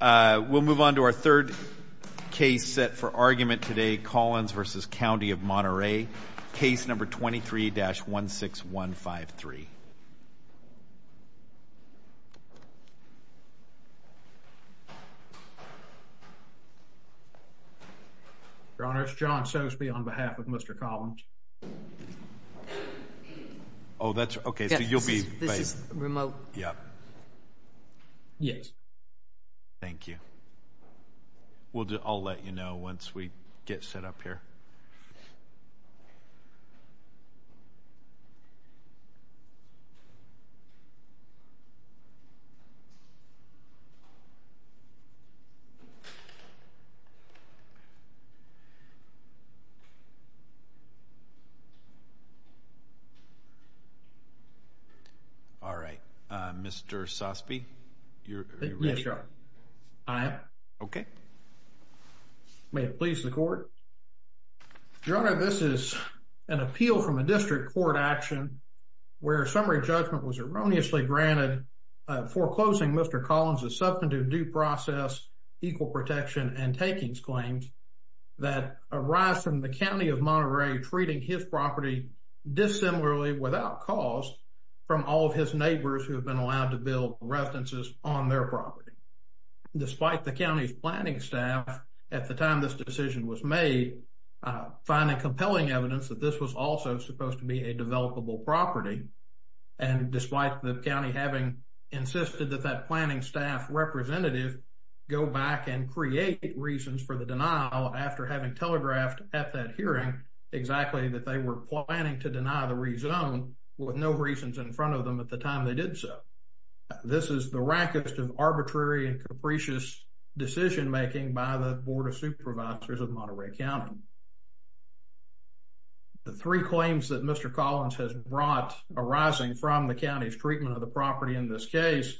We'll move on to our third case set for argument today, Collins v. County of Monterey, case number 23-16153. Your Honor, it's John Sosby on behalf of Mr. Collins. Oh, that's okay. So you'll be... This is remote. Yeah. Yes. Thank you. We'll do... I'll let you know once we get set up here. All right, Mr. Sosby. You're ready? Yes, Your Honor. I am. Okay. May it please the Court. Your Honor, this is an appeal from a district court action where summary judgment was erroneously granted foreclosing Mr. Collins' substantive due process, equal protection, and takings claims that arise from the County of Monterey treating his property dissimilarly without cause from all of his neighbors who have been allowed to build residences on their property. Despite the county's planning staff at the time this decision was made finding compelling evidence that this was also supposed to be a developable property and despite the county having insisted that that planning staff representative go back and create reasons for the denial after having telegraphed at that hearing exactly that they were planning to deny the rezone with no reasons in front of them at the time they did so. This is the rankest of arbitrary and capricious decision-making by the Board of Supervisors of Monterey County. The three claims that Mr. Collins has brought arising from the county's treatment of the property in this case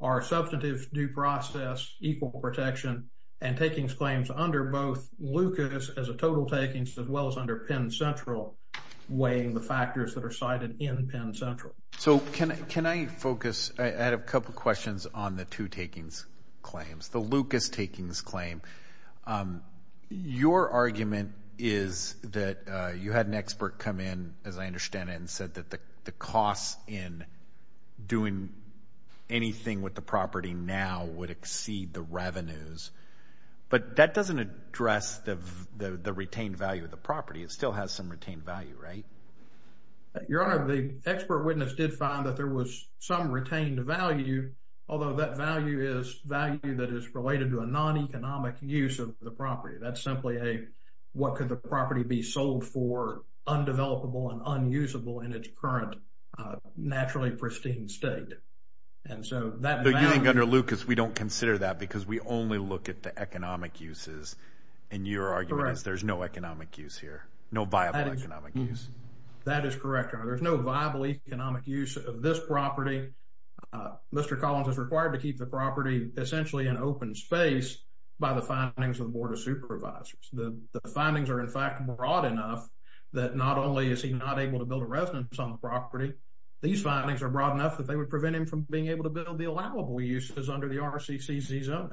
are substantive due process, equal protection, and takings claims under both Lucas as a total takings as well as under Penn Central weighing the factors that are cited in Penn Central. So can I focus, I had a couple questions on the two takings claims, the Lucas takings claim. Your argument is that you had an expert come in as I understand it and said that the cost in doing anything with the property now would exceed the revenues, but that doesn't address the retained value of the property. It still has some retained value, right? Your Honor, the expert witness did find that there was some retained value, although that value is value that is related to a non-economic use of the property. That's simply a what could the property be sold for, undevelopable and unusable in its current naturally pristine state. And so that value... But you think under Lucas we don't consider that because we only look at the economic uses and your argument is there's no economic use here, no viable economic use. That is correct, Your Honor. There's no viable economic use of this property. Mr. Collins is required to keep the property essentially an open space by the findings of the Board of Supervisors. The findings are in fact broad enough that not only is he not able to build a residence on the property, these findings are broad enough that they would prevent him from being able to build the allowable uses under the RCCZ zoning.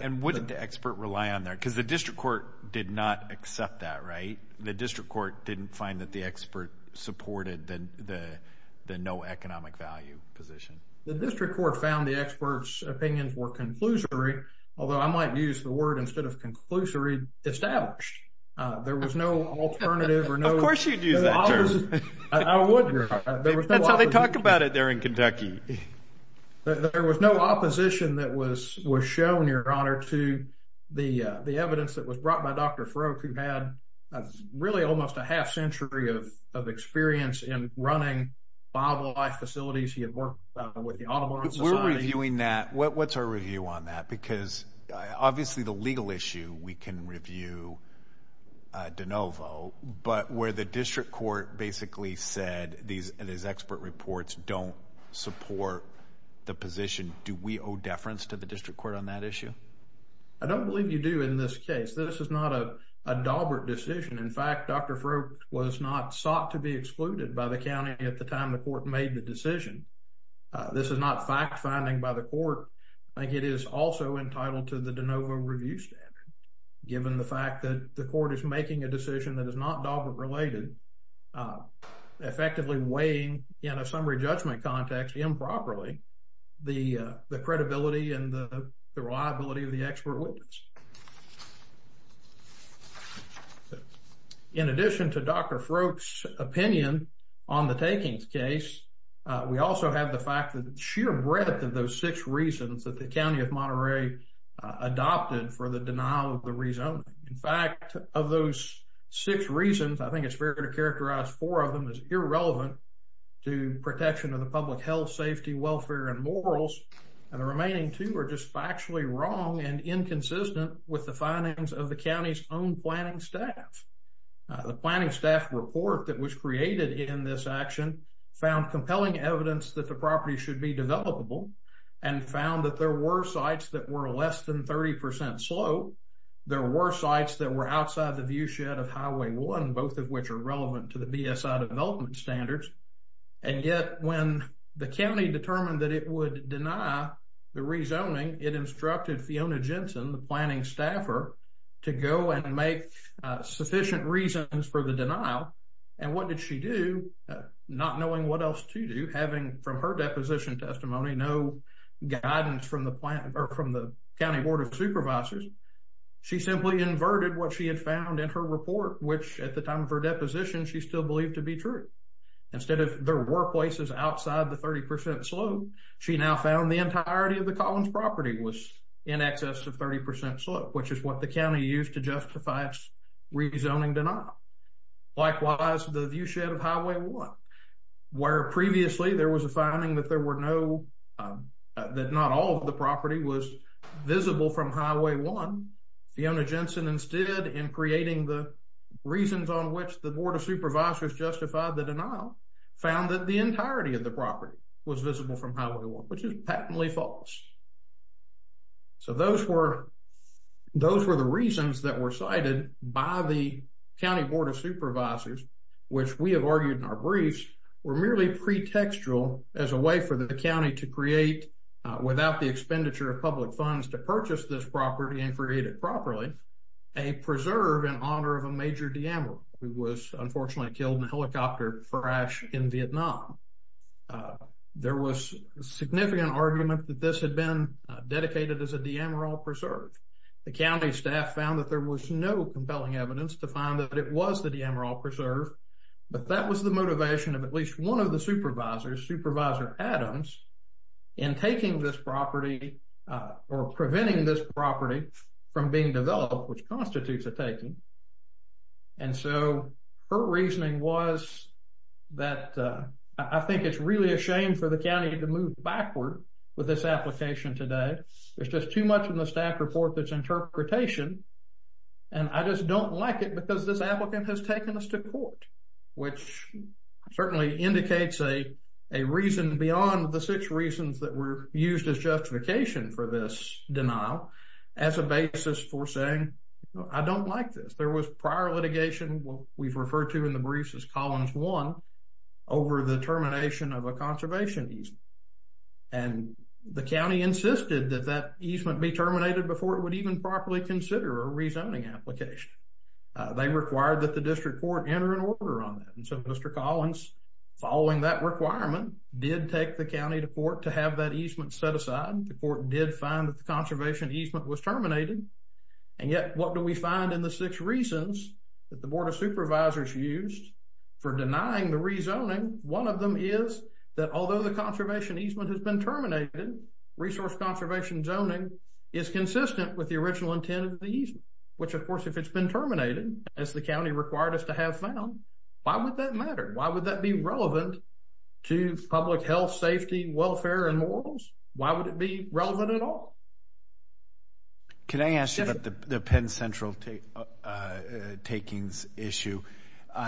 And wouldn't the expert rely on that because the district court did not accept that, right? The district court didn't find that the expert supported the no economic value position. The district court found the expert's opinions were conclusory, although I might use the word instead of conclusory, established. There was no alternative or no... Of course you'd use that term. I would, Your Honor. That's how they talk about it there to the evidence that was brought by Dr. Farrokh who had really almost a half century of experience in running viable life facilities. He had worked with the automotive society. We're reviewing that. What's our review on that? Because obviously the legal issue we can review de novo, but where the district court basically said these expert reports don't support the position, do we owe a deference to the district court on that issue? I don't believe you do in this case. This is not a daubered decision. In fact, Dr. Farrokh was not sought to be excluded by the county at the time the court made the decision. This is not fact finding by the court. I think it is also entitled to the de novo review standard, given the fact that the court is making a decision that is not daubered related, effectively weighing in a summary judgment context improperly the credibility and the reliability of the expert witness. In addition to Dr. Farrokh's opinion on the takings case, we also have the fact that the sheer breadth of those six reasons that the county of Monterey adopted for the denial of the rezoning. In fact, of those six reasons, I think it's fair to characterize four of them as irrelevant to protection of the public health, safety, welfare and morals. And the remaining two are just factually wrong and inconsistent with the findings of the county's own planning staff. The planning staff report that was created in this action found compelling evidence that the property should be developable and found that there were sites that were less than 30% slow. There were sites that were outside the viewshed of Highway 1, both of which are And yet when the county determined that it would deny the rezoning, it instructed Fiona Jensen, the planning staffer, to go and make sufficient reasons for the denial. And what did she do? Not knowing what else to do, having from her deposition testimony, no guidance from the county board of supervisors, she simply inverted what she had found in her report, which at the time of her deposition, she still believed to be true. Instead, if there were places outside the 30% slow, she now found the entirety of the Collins property was in excess of 30% slow, which is what the county used to justify its rezoning denial. Likewise, the viewshed of Highway 1, where previously there was a finding that there were no, that not all of the property was visible from Highway 1, Fiona Jensen instead, in creating the reasons on which the board of supervisors justified the denial, found that the entirety of the property was visible from Highway 1, which is patently false. So those were, those were the reasons that were cited by the county board of supervisors, which we have argued in our briefs were merely pretextual as a way for the county to create without the expenditure of public funds to purchase this property and create it properly, a preserve in honor of a major de Amaro, who was unfortunately killed in a helicopter crash in Vietnam. There was a significant argument that this had been dedicated as a de Amaro preserve. The county staff found that there was no compelling evidence to find that it was the de Amaro preserve, but that was the motivation of at least one of the supervisors, Supervisor Adams, in taking this property or preventing this property from being developed, which constitutes a taking. And so her reasoning was that I think it's really a shame for the county to move backward with this application today. It's just too much in the staff report that's interpretation. And I just don't like it because this applicant has taken us to court, which certainly indicates a reason beyond the six reasons that were used as justification for this denial as a basis for saying, I don't like this. There was prior litigation, what we've referred to in the briefs as Columns 1, over the termination of a conservation easement. And the county insisted that that easement be terminated before it would even properly consider a rezoning application. They required that the district court enter an order on that. And so Mr. Collins, following that requirement, did take the court did find that the conservation easement was terminated. And yet, what do we find in the six reasons that the Board of Supervisors used for denying the rezoning? One of them is that although the conservation easement has been terminated, resource conservation zoning is consistent with the original intent of the easement, which of course, if it's been terminated, as the county required us to have found, why would that matter? Why would that be relevant to public health, safety, welfare, and morals? Why would it be relevant at all? Can I ask you about the Penn Central takings issue?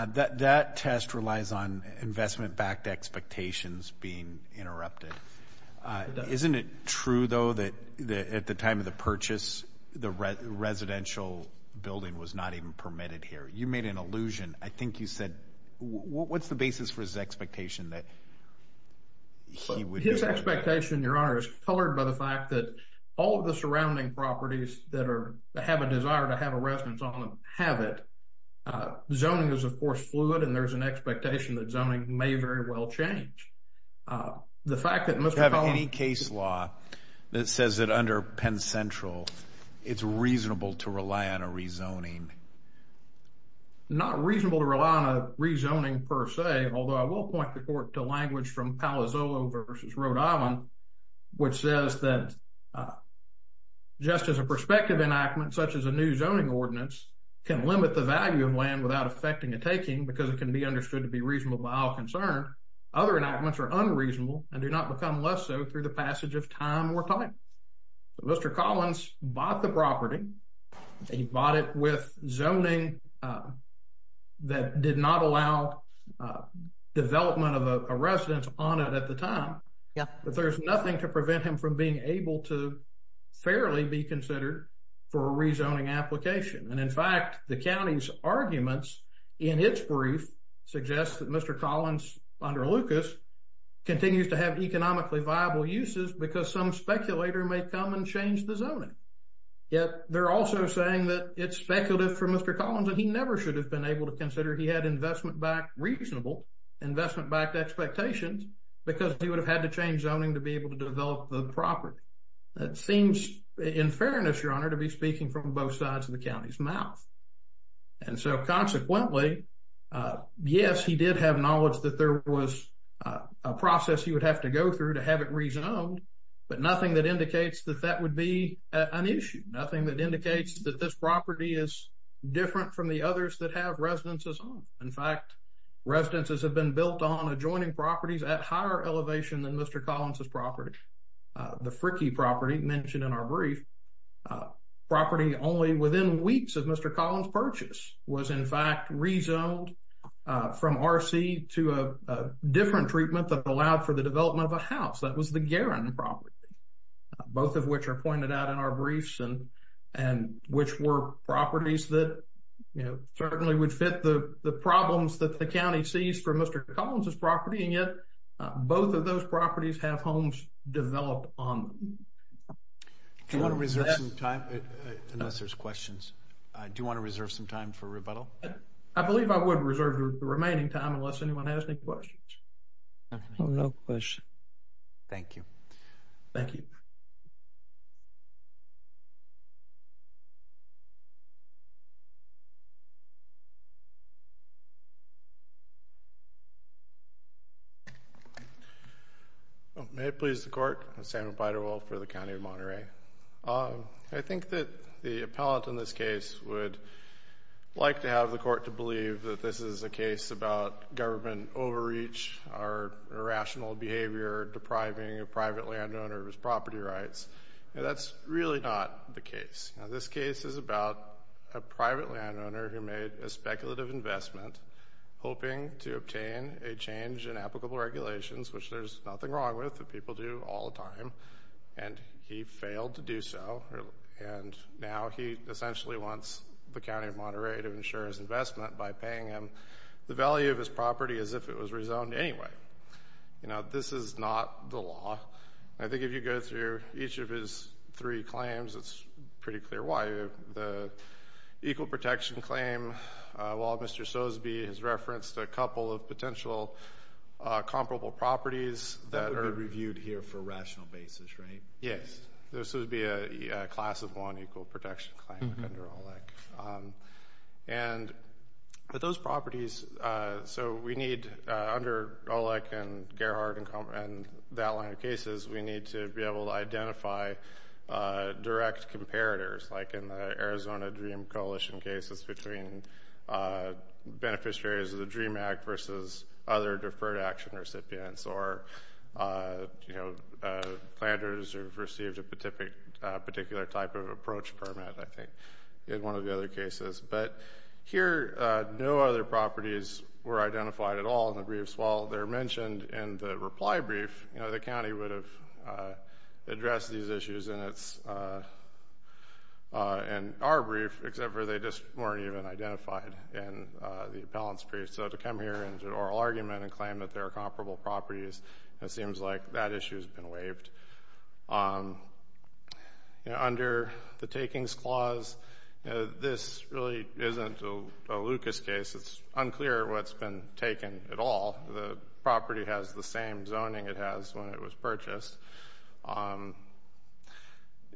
That test relies on investment-backed expectations being interrupted. Isn't it true, though, that at the time of the purchase, the residential building was not even permitted here? You made an allusion. I think you said, what's the basis for his expectation that he would... His expectation, Your Honor, is colored by the fact that all of the surrounding properties that have a desire to have a residence on them have it. Zoning is, of course, fluid and there's an expectation that zoning may very well change. The fact that Mr. Collins... Do you have any case law that says that under Penn Central, it's reasonable to rely on a rezoning? Not reasonable to rely on a rezoning per se, although I will point the court to language from Palazzolo v. Rhode Island, which says that just as a prospective enactment, such as a new zoning ordinance, can limit the value of land without affecting a taking because it can be understood to be reasonable by all concern, other enactments are unreasonable and do not become less so through the passage of time or time. Mr. Collins bought the property. He bought it with zoning that did not allow development of a residence on it at the time, but there's nothing to prevent him from being able to fairly be considered for a rezoning application. And in fact, the county's arguments in its brief suggest that Mr. Collins, under Lucas, continues to have economically viable uses because some speculator may come and change the zoning. Yet, they're also saying that it's speculative for Mr. Collins and he never should have been able to consider he had investment backed reasonable investment backed expectations because he would have had to change zoning to be able to develop the property. That seems in fairness, your honor, to be speaking from both sides of the county's mouth. And so consequently, yes, he did have knowledge that there was a process he would have to go through to have it rezoned, but nothing that indicates that that would be an issue. Nothing that indicates that this property is different from the others that have residences on. In fact, residences have been built on adjoining properties at higher elevation than Mr. Collins' property. The Frickie property mentioned in our brief, property only within weeks of Mr. Collins' purchase, was in fact rezoned from RC to a different treatment that allowed for the development of a house. That was the Guerin property, both of which are pointed out in our briefs and which were properties that, you know, certainly would fit the problems that the county sees from Mr. Collins' property and yet both of those properties have homes developed on them. Do you want to reserve some time? Unless there's questions. Do you want to reserve some time for rebuttal? I believe I would reserve the remaining time unless anyone has any questions. No questions. Thank you. Thank you. May it please the court. I'm Sam Beiderwolf for the County of Monterey. I think that the appellant in this case would like to have the court to believe that this is a case about government overreach or irrational behavior depriving a private landowner of his property rights. That's really not the case. This case is about a private landowner who made a speculative investment hoping to obtain a change in applicable regulations, which there's nothing wrong with. People do all the time. And he failed to do so. And now he essentially wants the County of Monterey to insure his investment by paying him the value of his property as if it was rezoned anyway. You know, this is not the law. I think if you go through each of his three claims, it's pretty clear why. The equal protection claim, while Mr. Sosby has referenced a couple of potential comparable properties that are... That would be reviewed here for a rational basis, right? Yes. This would be a class of one equal protection claim under OLEC. And those properties, so we need under OLEC and Gerhard and that line of cases, we need to be able to identify direct comparators, like in the Arizona Dream Coalition cases between beneficiaries of the DREAM Act versus other Deferred Action recipients or, you know, planters who've received a particular type of approach permit, I think, in one of the other cases. But here, no other properties were identified at all in the briefs. While they're mentioned in the reply brief, you know, the county would have addressed these issues in our brief, except for they just weren't even identified in the appellant's brief. So to come here into an oral argument and claim that there are comparable properties, it seems like that issue has been waived. You know, under the takings clause, this really isn't a Lucas case. It's unclear what's been taken at all. The property has the same zoning it has when it was purchased.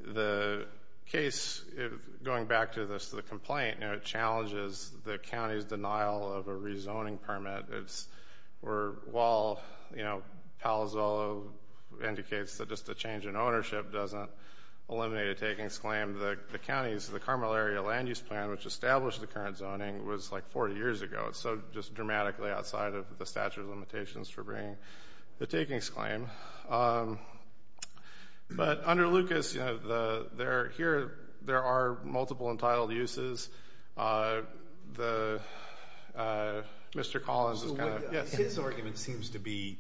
The case, going back to the complaint, you know, it challenges the county's denial of a rezoning permit. It's where while, you know, Palo Zolo indicates that just a change in ownership doesn't eliminate a takings claim, the county's, the Carmel Area Land Use Plan, which established the current zoning, was like 40 years ago. It's so just dramatically outside of the statute of limitations for bringing the takings claim. But under Lucas, you know, here there are multiple entitled uses. The, Mr. Collins is kind of, yes. So his argument seems to be,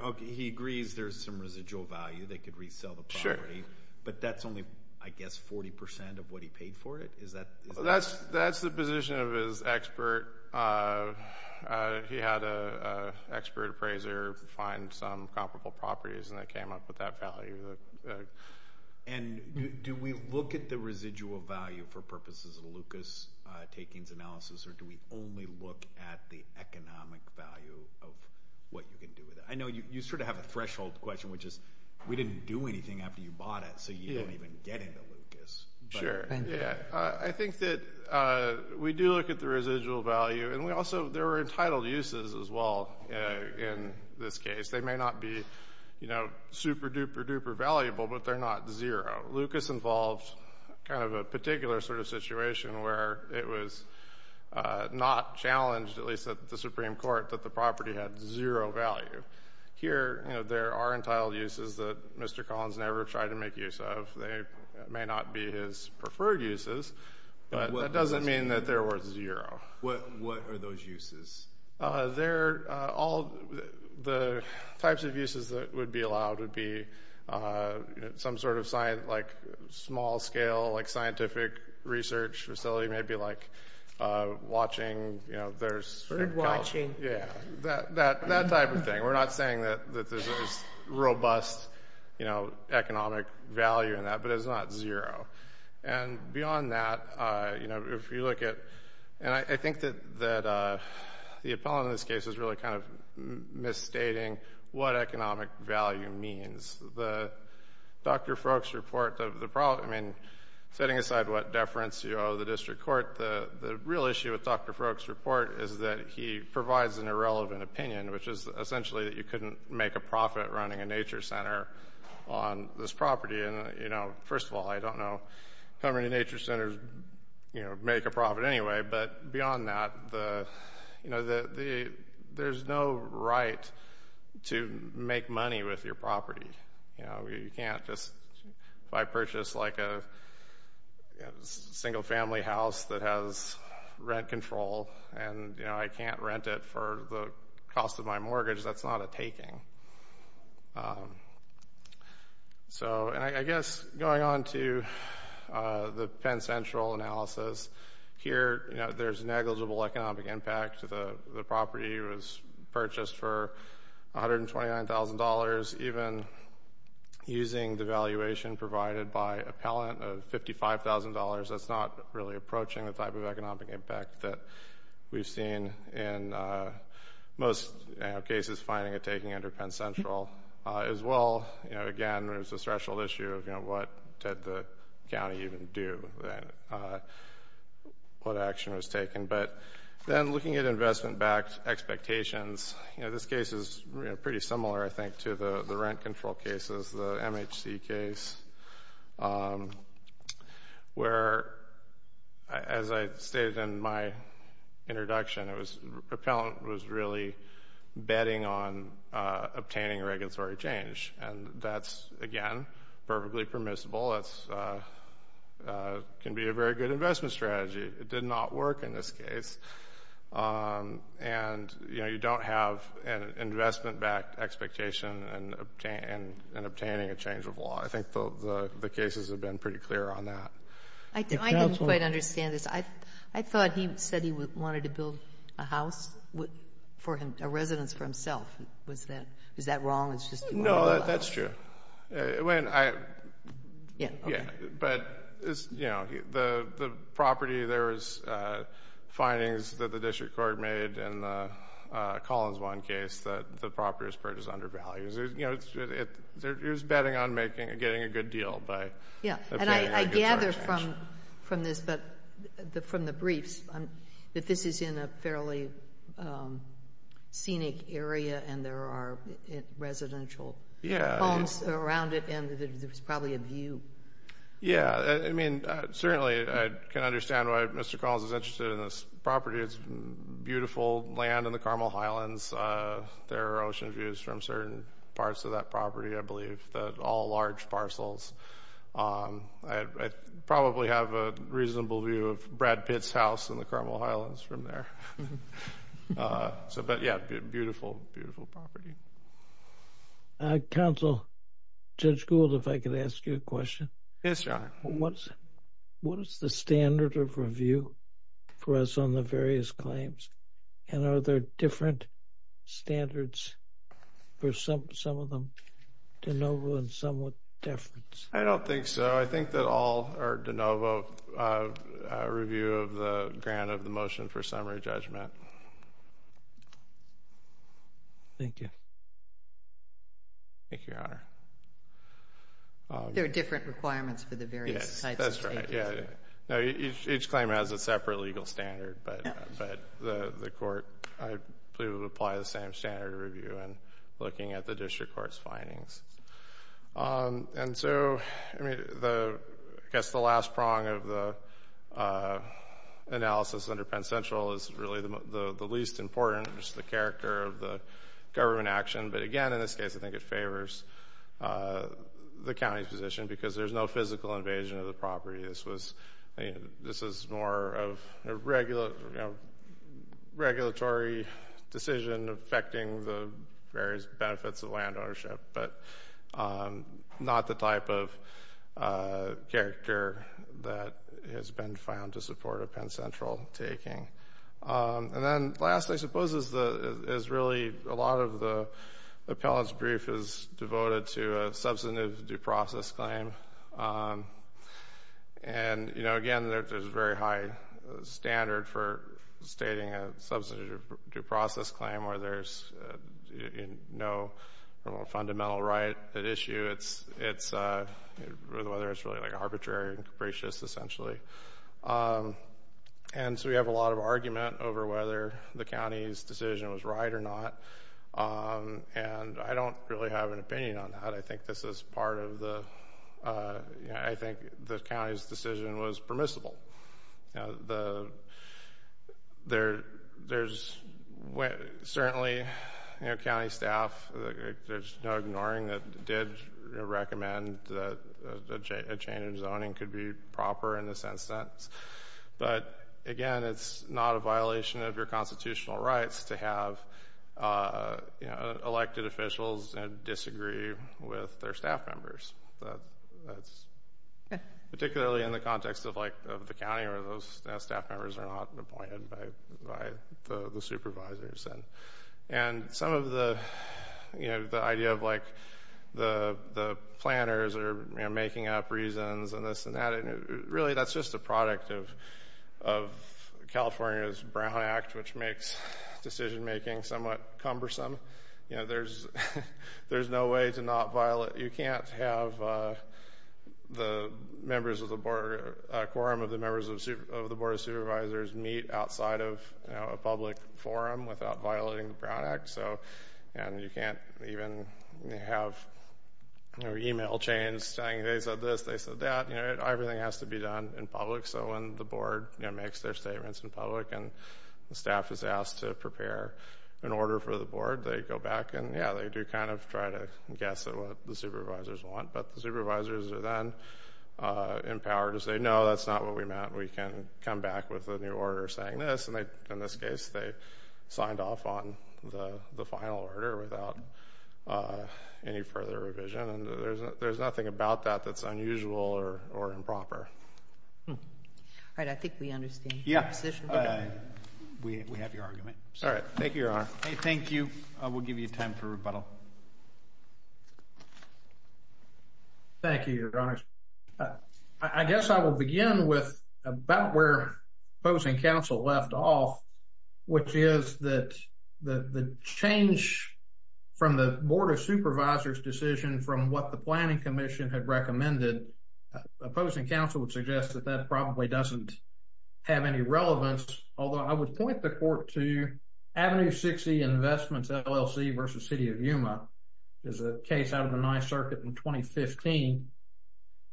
okay, he agrees there's some residual value, they could resell the property. Sure. But that's only, I guess, 40% of what he paid for it? Is that That's the position of his expert. He had an expert appraiser find some comparable properties and they came up with that value. And do we look at the residual value for purposes of Lucas takings analysis, or do we only look at the economic value of what you can do with it? I know you sort of have a threshold question, which is we didn't do anything after you bought it, so you don't even get into Lucas. Sure. Thank you. I think that we do look at the residual value. And we also, there were entitled uses as well in this case. They may not be, you know, super-duper-duper valuable, but they're not zero. Lucas involves kind of a particular sort of situation where it was not challenged, at least at the Supreme Court, that the property had zero value. Here, you know, there are entitled uses that Mr. Collins never tried to make use of. They may not be his preferred uses, but that doesn't mean that they're worth zero. What are those uses? They're all the types of uses that would be allowed would be some sort of, like, small-scale, like, scientific research facility, maybe like watching, you know, that type of thing. We're not saying that there's robust, you know, economic value in that, but it's not zero. And beyond that, you know, if you look at, and I think that the appellant in this case is really kind of misstating what economic value means. The Dr. Froek's report, I mean, setting aside what deference you owe the district court, the real issue with Dr. Froek's report is that he provides an irrelevant opinion, which is essentially that you couldn't make a profit running a nature center on this property. You know, first of all, I don't know how many nature centers, you know, make a profit anyway, but beyond that, you know, there's no right to make money with your property. You know, you can't just, if I purchase, like, a single-family house that has rent control and, you know, I can't rent it for the cost of my mortgage, that's not a taking. So, and I guess going on to the Penn Central analysis, here, you know, there's negligible economic impact. The property was purchased for $129,000. Even using the valuation provided by appellant of $55,000, that's not really approaching the type of economic impact that we've seen in most cases finding a taking under Penn Central. As well, you know, again, there's a threshold issue of, you know, what did the county even do, what action was taken. But then looking at investment-backed expectations, you know, this case is pretty similar, I think, to the rent control cases, the MHC case, where, as I stated in my introduction, it was, appellant was really betting on obtaining regulatory change. And that's, again, perfectly permissible. It can be a very good investment strategy. It did not work in this case. And, you know, you don't have an investment-backed expectation in obtaining a change of law. I think the cases have been pretty clear on that. I didn't quite understand this. I thought he said he wanted to build a house for him, a residence for himself. Was that wrong? No, that's true. But, you know, the property, there was findings that the district court made in the Collins one case that the property was purchased under values. You know, it was betting on getting a good deal. Yeah, and I gather from this, from the briefs, that this is in a fairly scenic area and there are residential homes around it, and there's probably a view. Yeah, I mean, certainly I can understand why Mr. Collins is interested in this property. It's beautiful land in the Carmel Highlands. There are ocean views from certain parts of that property, I believe, that all large parcels. I probably have a reasonable view of Brad Pitt's house in the Carmel Highlands from there. But, yeah, beautiful, beautiful property. Counsel, Judge Gould, if I could ask you a question. Yes, John. What is the standard of review for us on the various claims, and are there different standards for some of them, de novo and some with deference? I don't think so. I think that all are de novo review of the grant of the motion Thank you. Thank you, Your Honor. There are different requirements for the various types of statements. Yes, that's right. Each claim has a separate legal standard, but the court, I believe, would apply the same standard of review in looking at the district court's findings. And so, I guess the last prong of the analysis under Penn Central is really the least important, just the character of the government action. But, again, in this case, I think it favors the county's position because there's no physical invasion of the property. This is more of a regulatory decision affecting the various benefits of land ownership, but not the type of character that has been found to support a Penn Central taking. And then, last, I suppose, is really a lot of the appellant's brief is devoted to a substantive due process claim. And, again, there's a very high standard for stating a substantive due process claim where there's no fundamental right at issue, whether it's really arbitrary and capricious, essentially. And so, we have a lot of argument over whether the county's decision was right or not. And I don't really have an opinion on that. I think this is part of the – I think the county's decision was permissible. Certainly, county staff, there's no ignoring that they did recommend that a change in zoning could be proper in this instance. But, again, it's not a violation of your constitutional rights to have elected officials disagree with their staff members, particularly in the context of the county where those staff members are not appointed by the supervisors. And some of the idea of, like, the planners are making up reasons and this and that, really that's just a product of California's Brown Act, which makes decision-making somewhat cumbersome. You know, there's no way to not violate – you can't have the members of the board – a quorum of the members of the board of supervisors meet outside of a public forum without violating the Brown Act. And you can't even have email chains saying they said this, they said that. Everything has to be done in public. So when the board makes their statements in public and the staff is asked to prepare an order for the board, they go back and, yeah, they do kind of try to guess at what the supervisors want. But the supervisors are then empowered to say, no, that's not what we meant. We can come back with a new order saying this. In this case, they signed off on the final order without any further revision. And there's nothing about that that's unusual or improper. All right, I think we understand your position. We have your argument. All right. Thank you, Your Honor. Thank you. We'll give you time for rebuttal. Thank you, Your Honor. I guess I will begin with about where opposing counsel left off, which is that the change from the board of supervisors' decision from what the planning commission had recommended, opposing counsel would suggest that that probably doesn't have any relevance. Although I would point the court to Avenue 60 Investments LLC versus City of Yuma is a case out of the ninth circuit in 2015.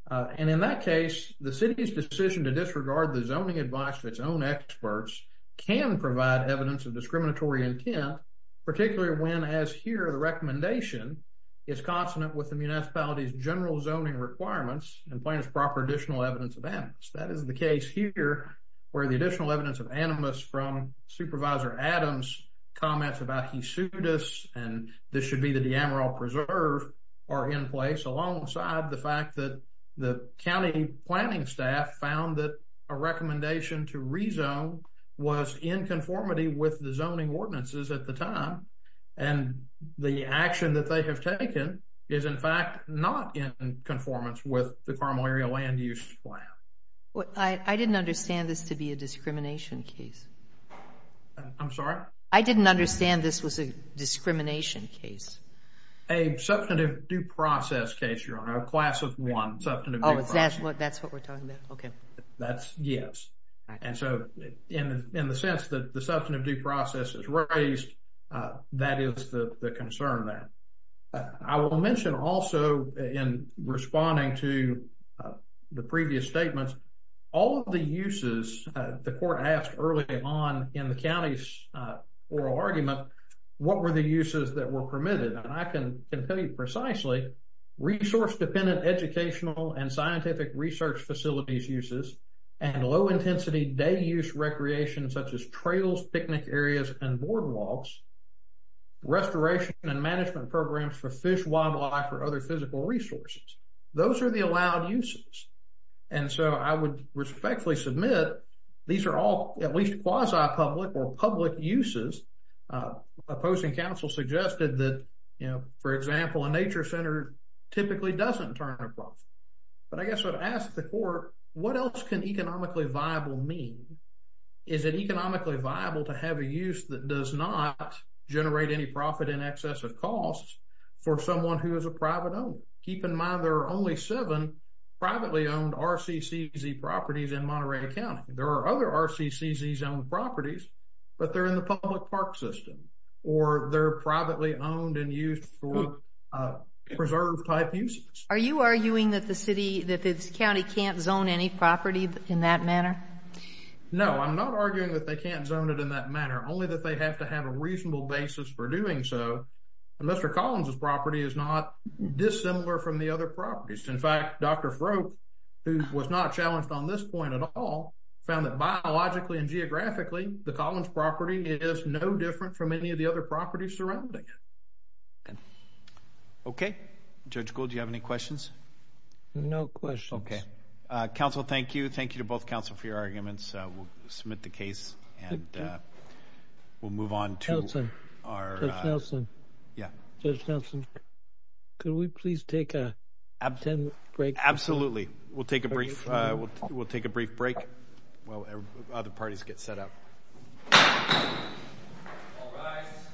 And in that case, the city's decision to disregard the zoning advice of its own experts can provide evidence of discriminatory intent, particularly when, as here, the recommendation is consonant with the municipality's general zoning requirements and plaintiff's proper additional evidence of animus. That is the case here where the additional evidence of animus from Supervisor Adams' comments about Hesudas, and this should be the De Amaro Preserve, are in place alongside the fact that the county planning staff found that a recommendation to rezone was in conformity with the zoning ordinances at the time. And the action that they have taken is, in fact, not in conformance with the Carmel area land use plan. I didn't understand this to be a discrimination case. I'm sorry? I didn't understand this was a discrimination case. A substantive due process case, Your Honor. A class of one substantive due process. Oh, that's what we're talking about. Okay. That's, yes. And so in the sense that the substantive due process is raised, that is the concern there. I will mention also in responding to the previous statements, all of the uses the court asked early on in the county's oral argument, what were the uses that were permitted? And I can tell you precisely resource dependent educational and scientific research facilities uses and low intensity day use recreation, such as trails, picnic areas, and boardwalks, restoration and management programs for fish, wildlife, or other physical resources. Those are the allowed uses. And so I would respectfully submit these are all at least quasi-public or public uses. A posting council suggested that, you know, for example, a nature center typically doesn't turn a profit. But I guess I'd ask the court, what else can economically viable mean? Is it economically viable to have a use that does not generate any profit in excess of costs for someone who is a private owner? Keep in mind there are only seven privately owned RCCZ properties in Monterey County. There are other RCCZs owned properties, but they're in the public park system or they're privately owned and used for preserve type uses. Are you arguing that the city, that this county can't zone any property in that manner? No, I'm not arguing that they can't zone it in that manner, only that they have to have a reasonable basis for doing so. Mr. Collins' property is not dissimilar from the other properties. In fact, Dr. Froke, who was not challenged on this point at all, found that biologically and geographically, the Collins property is no different from any of the other properties surrounding it. Okay. Judge Gould, do you have any questions? No questions. Okay. Council, thank you. Thank you to both council for your arguments. We'll submit the case and we'll move on to our. Judge Nelson. Yeah. Judge Nelson, can we please take a 10-minute break? Absolutely. We'll take a brief break while other parties get set up. All rise.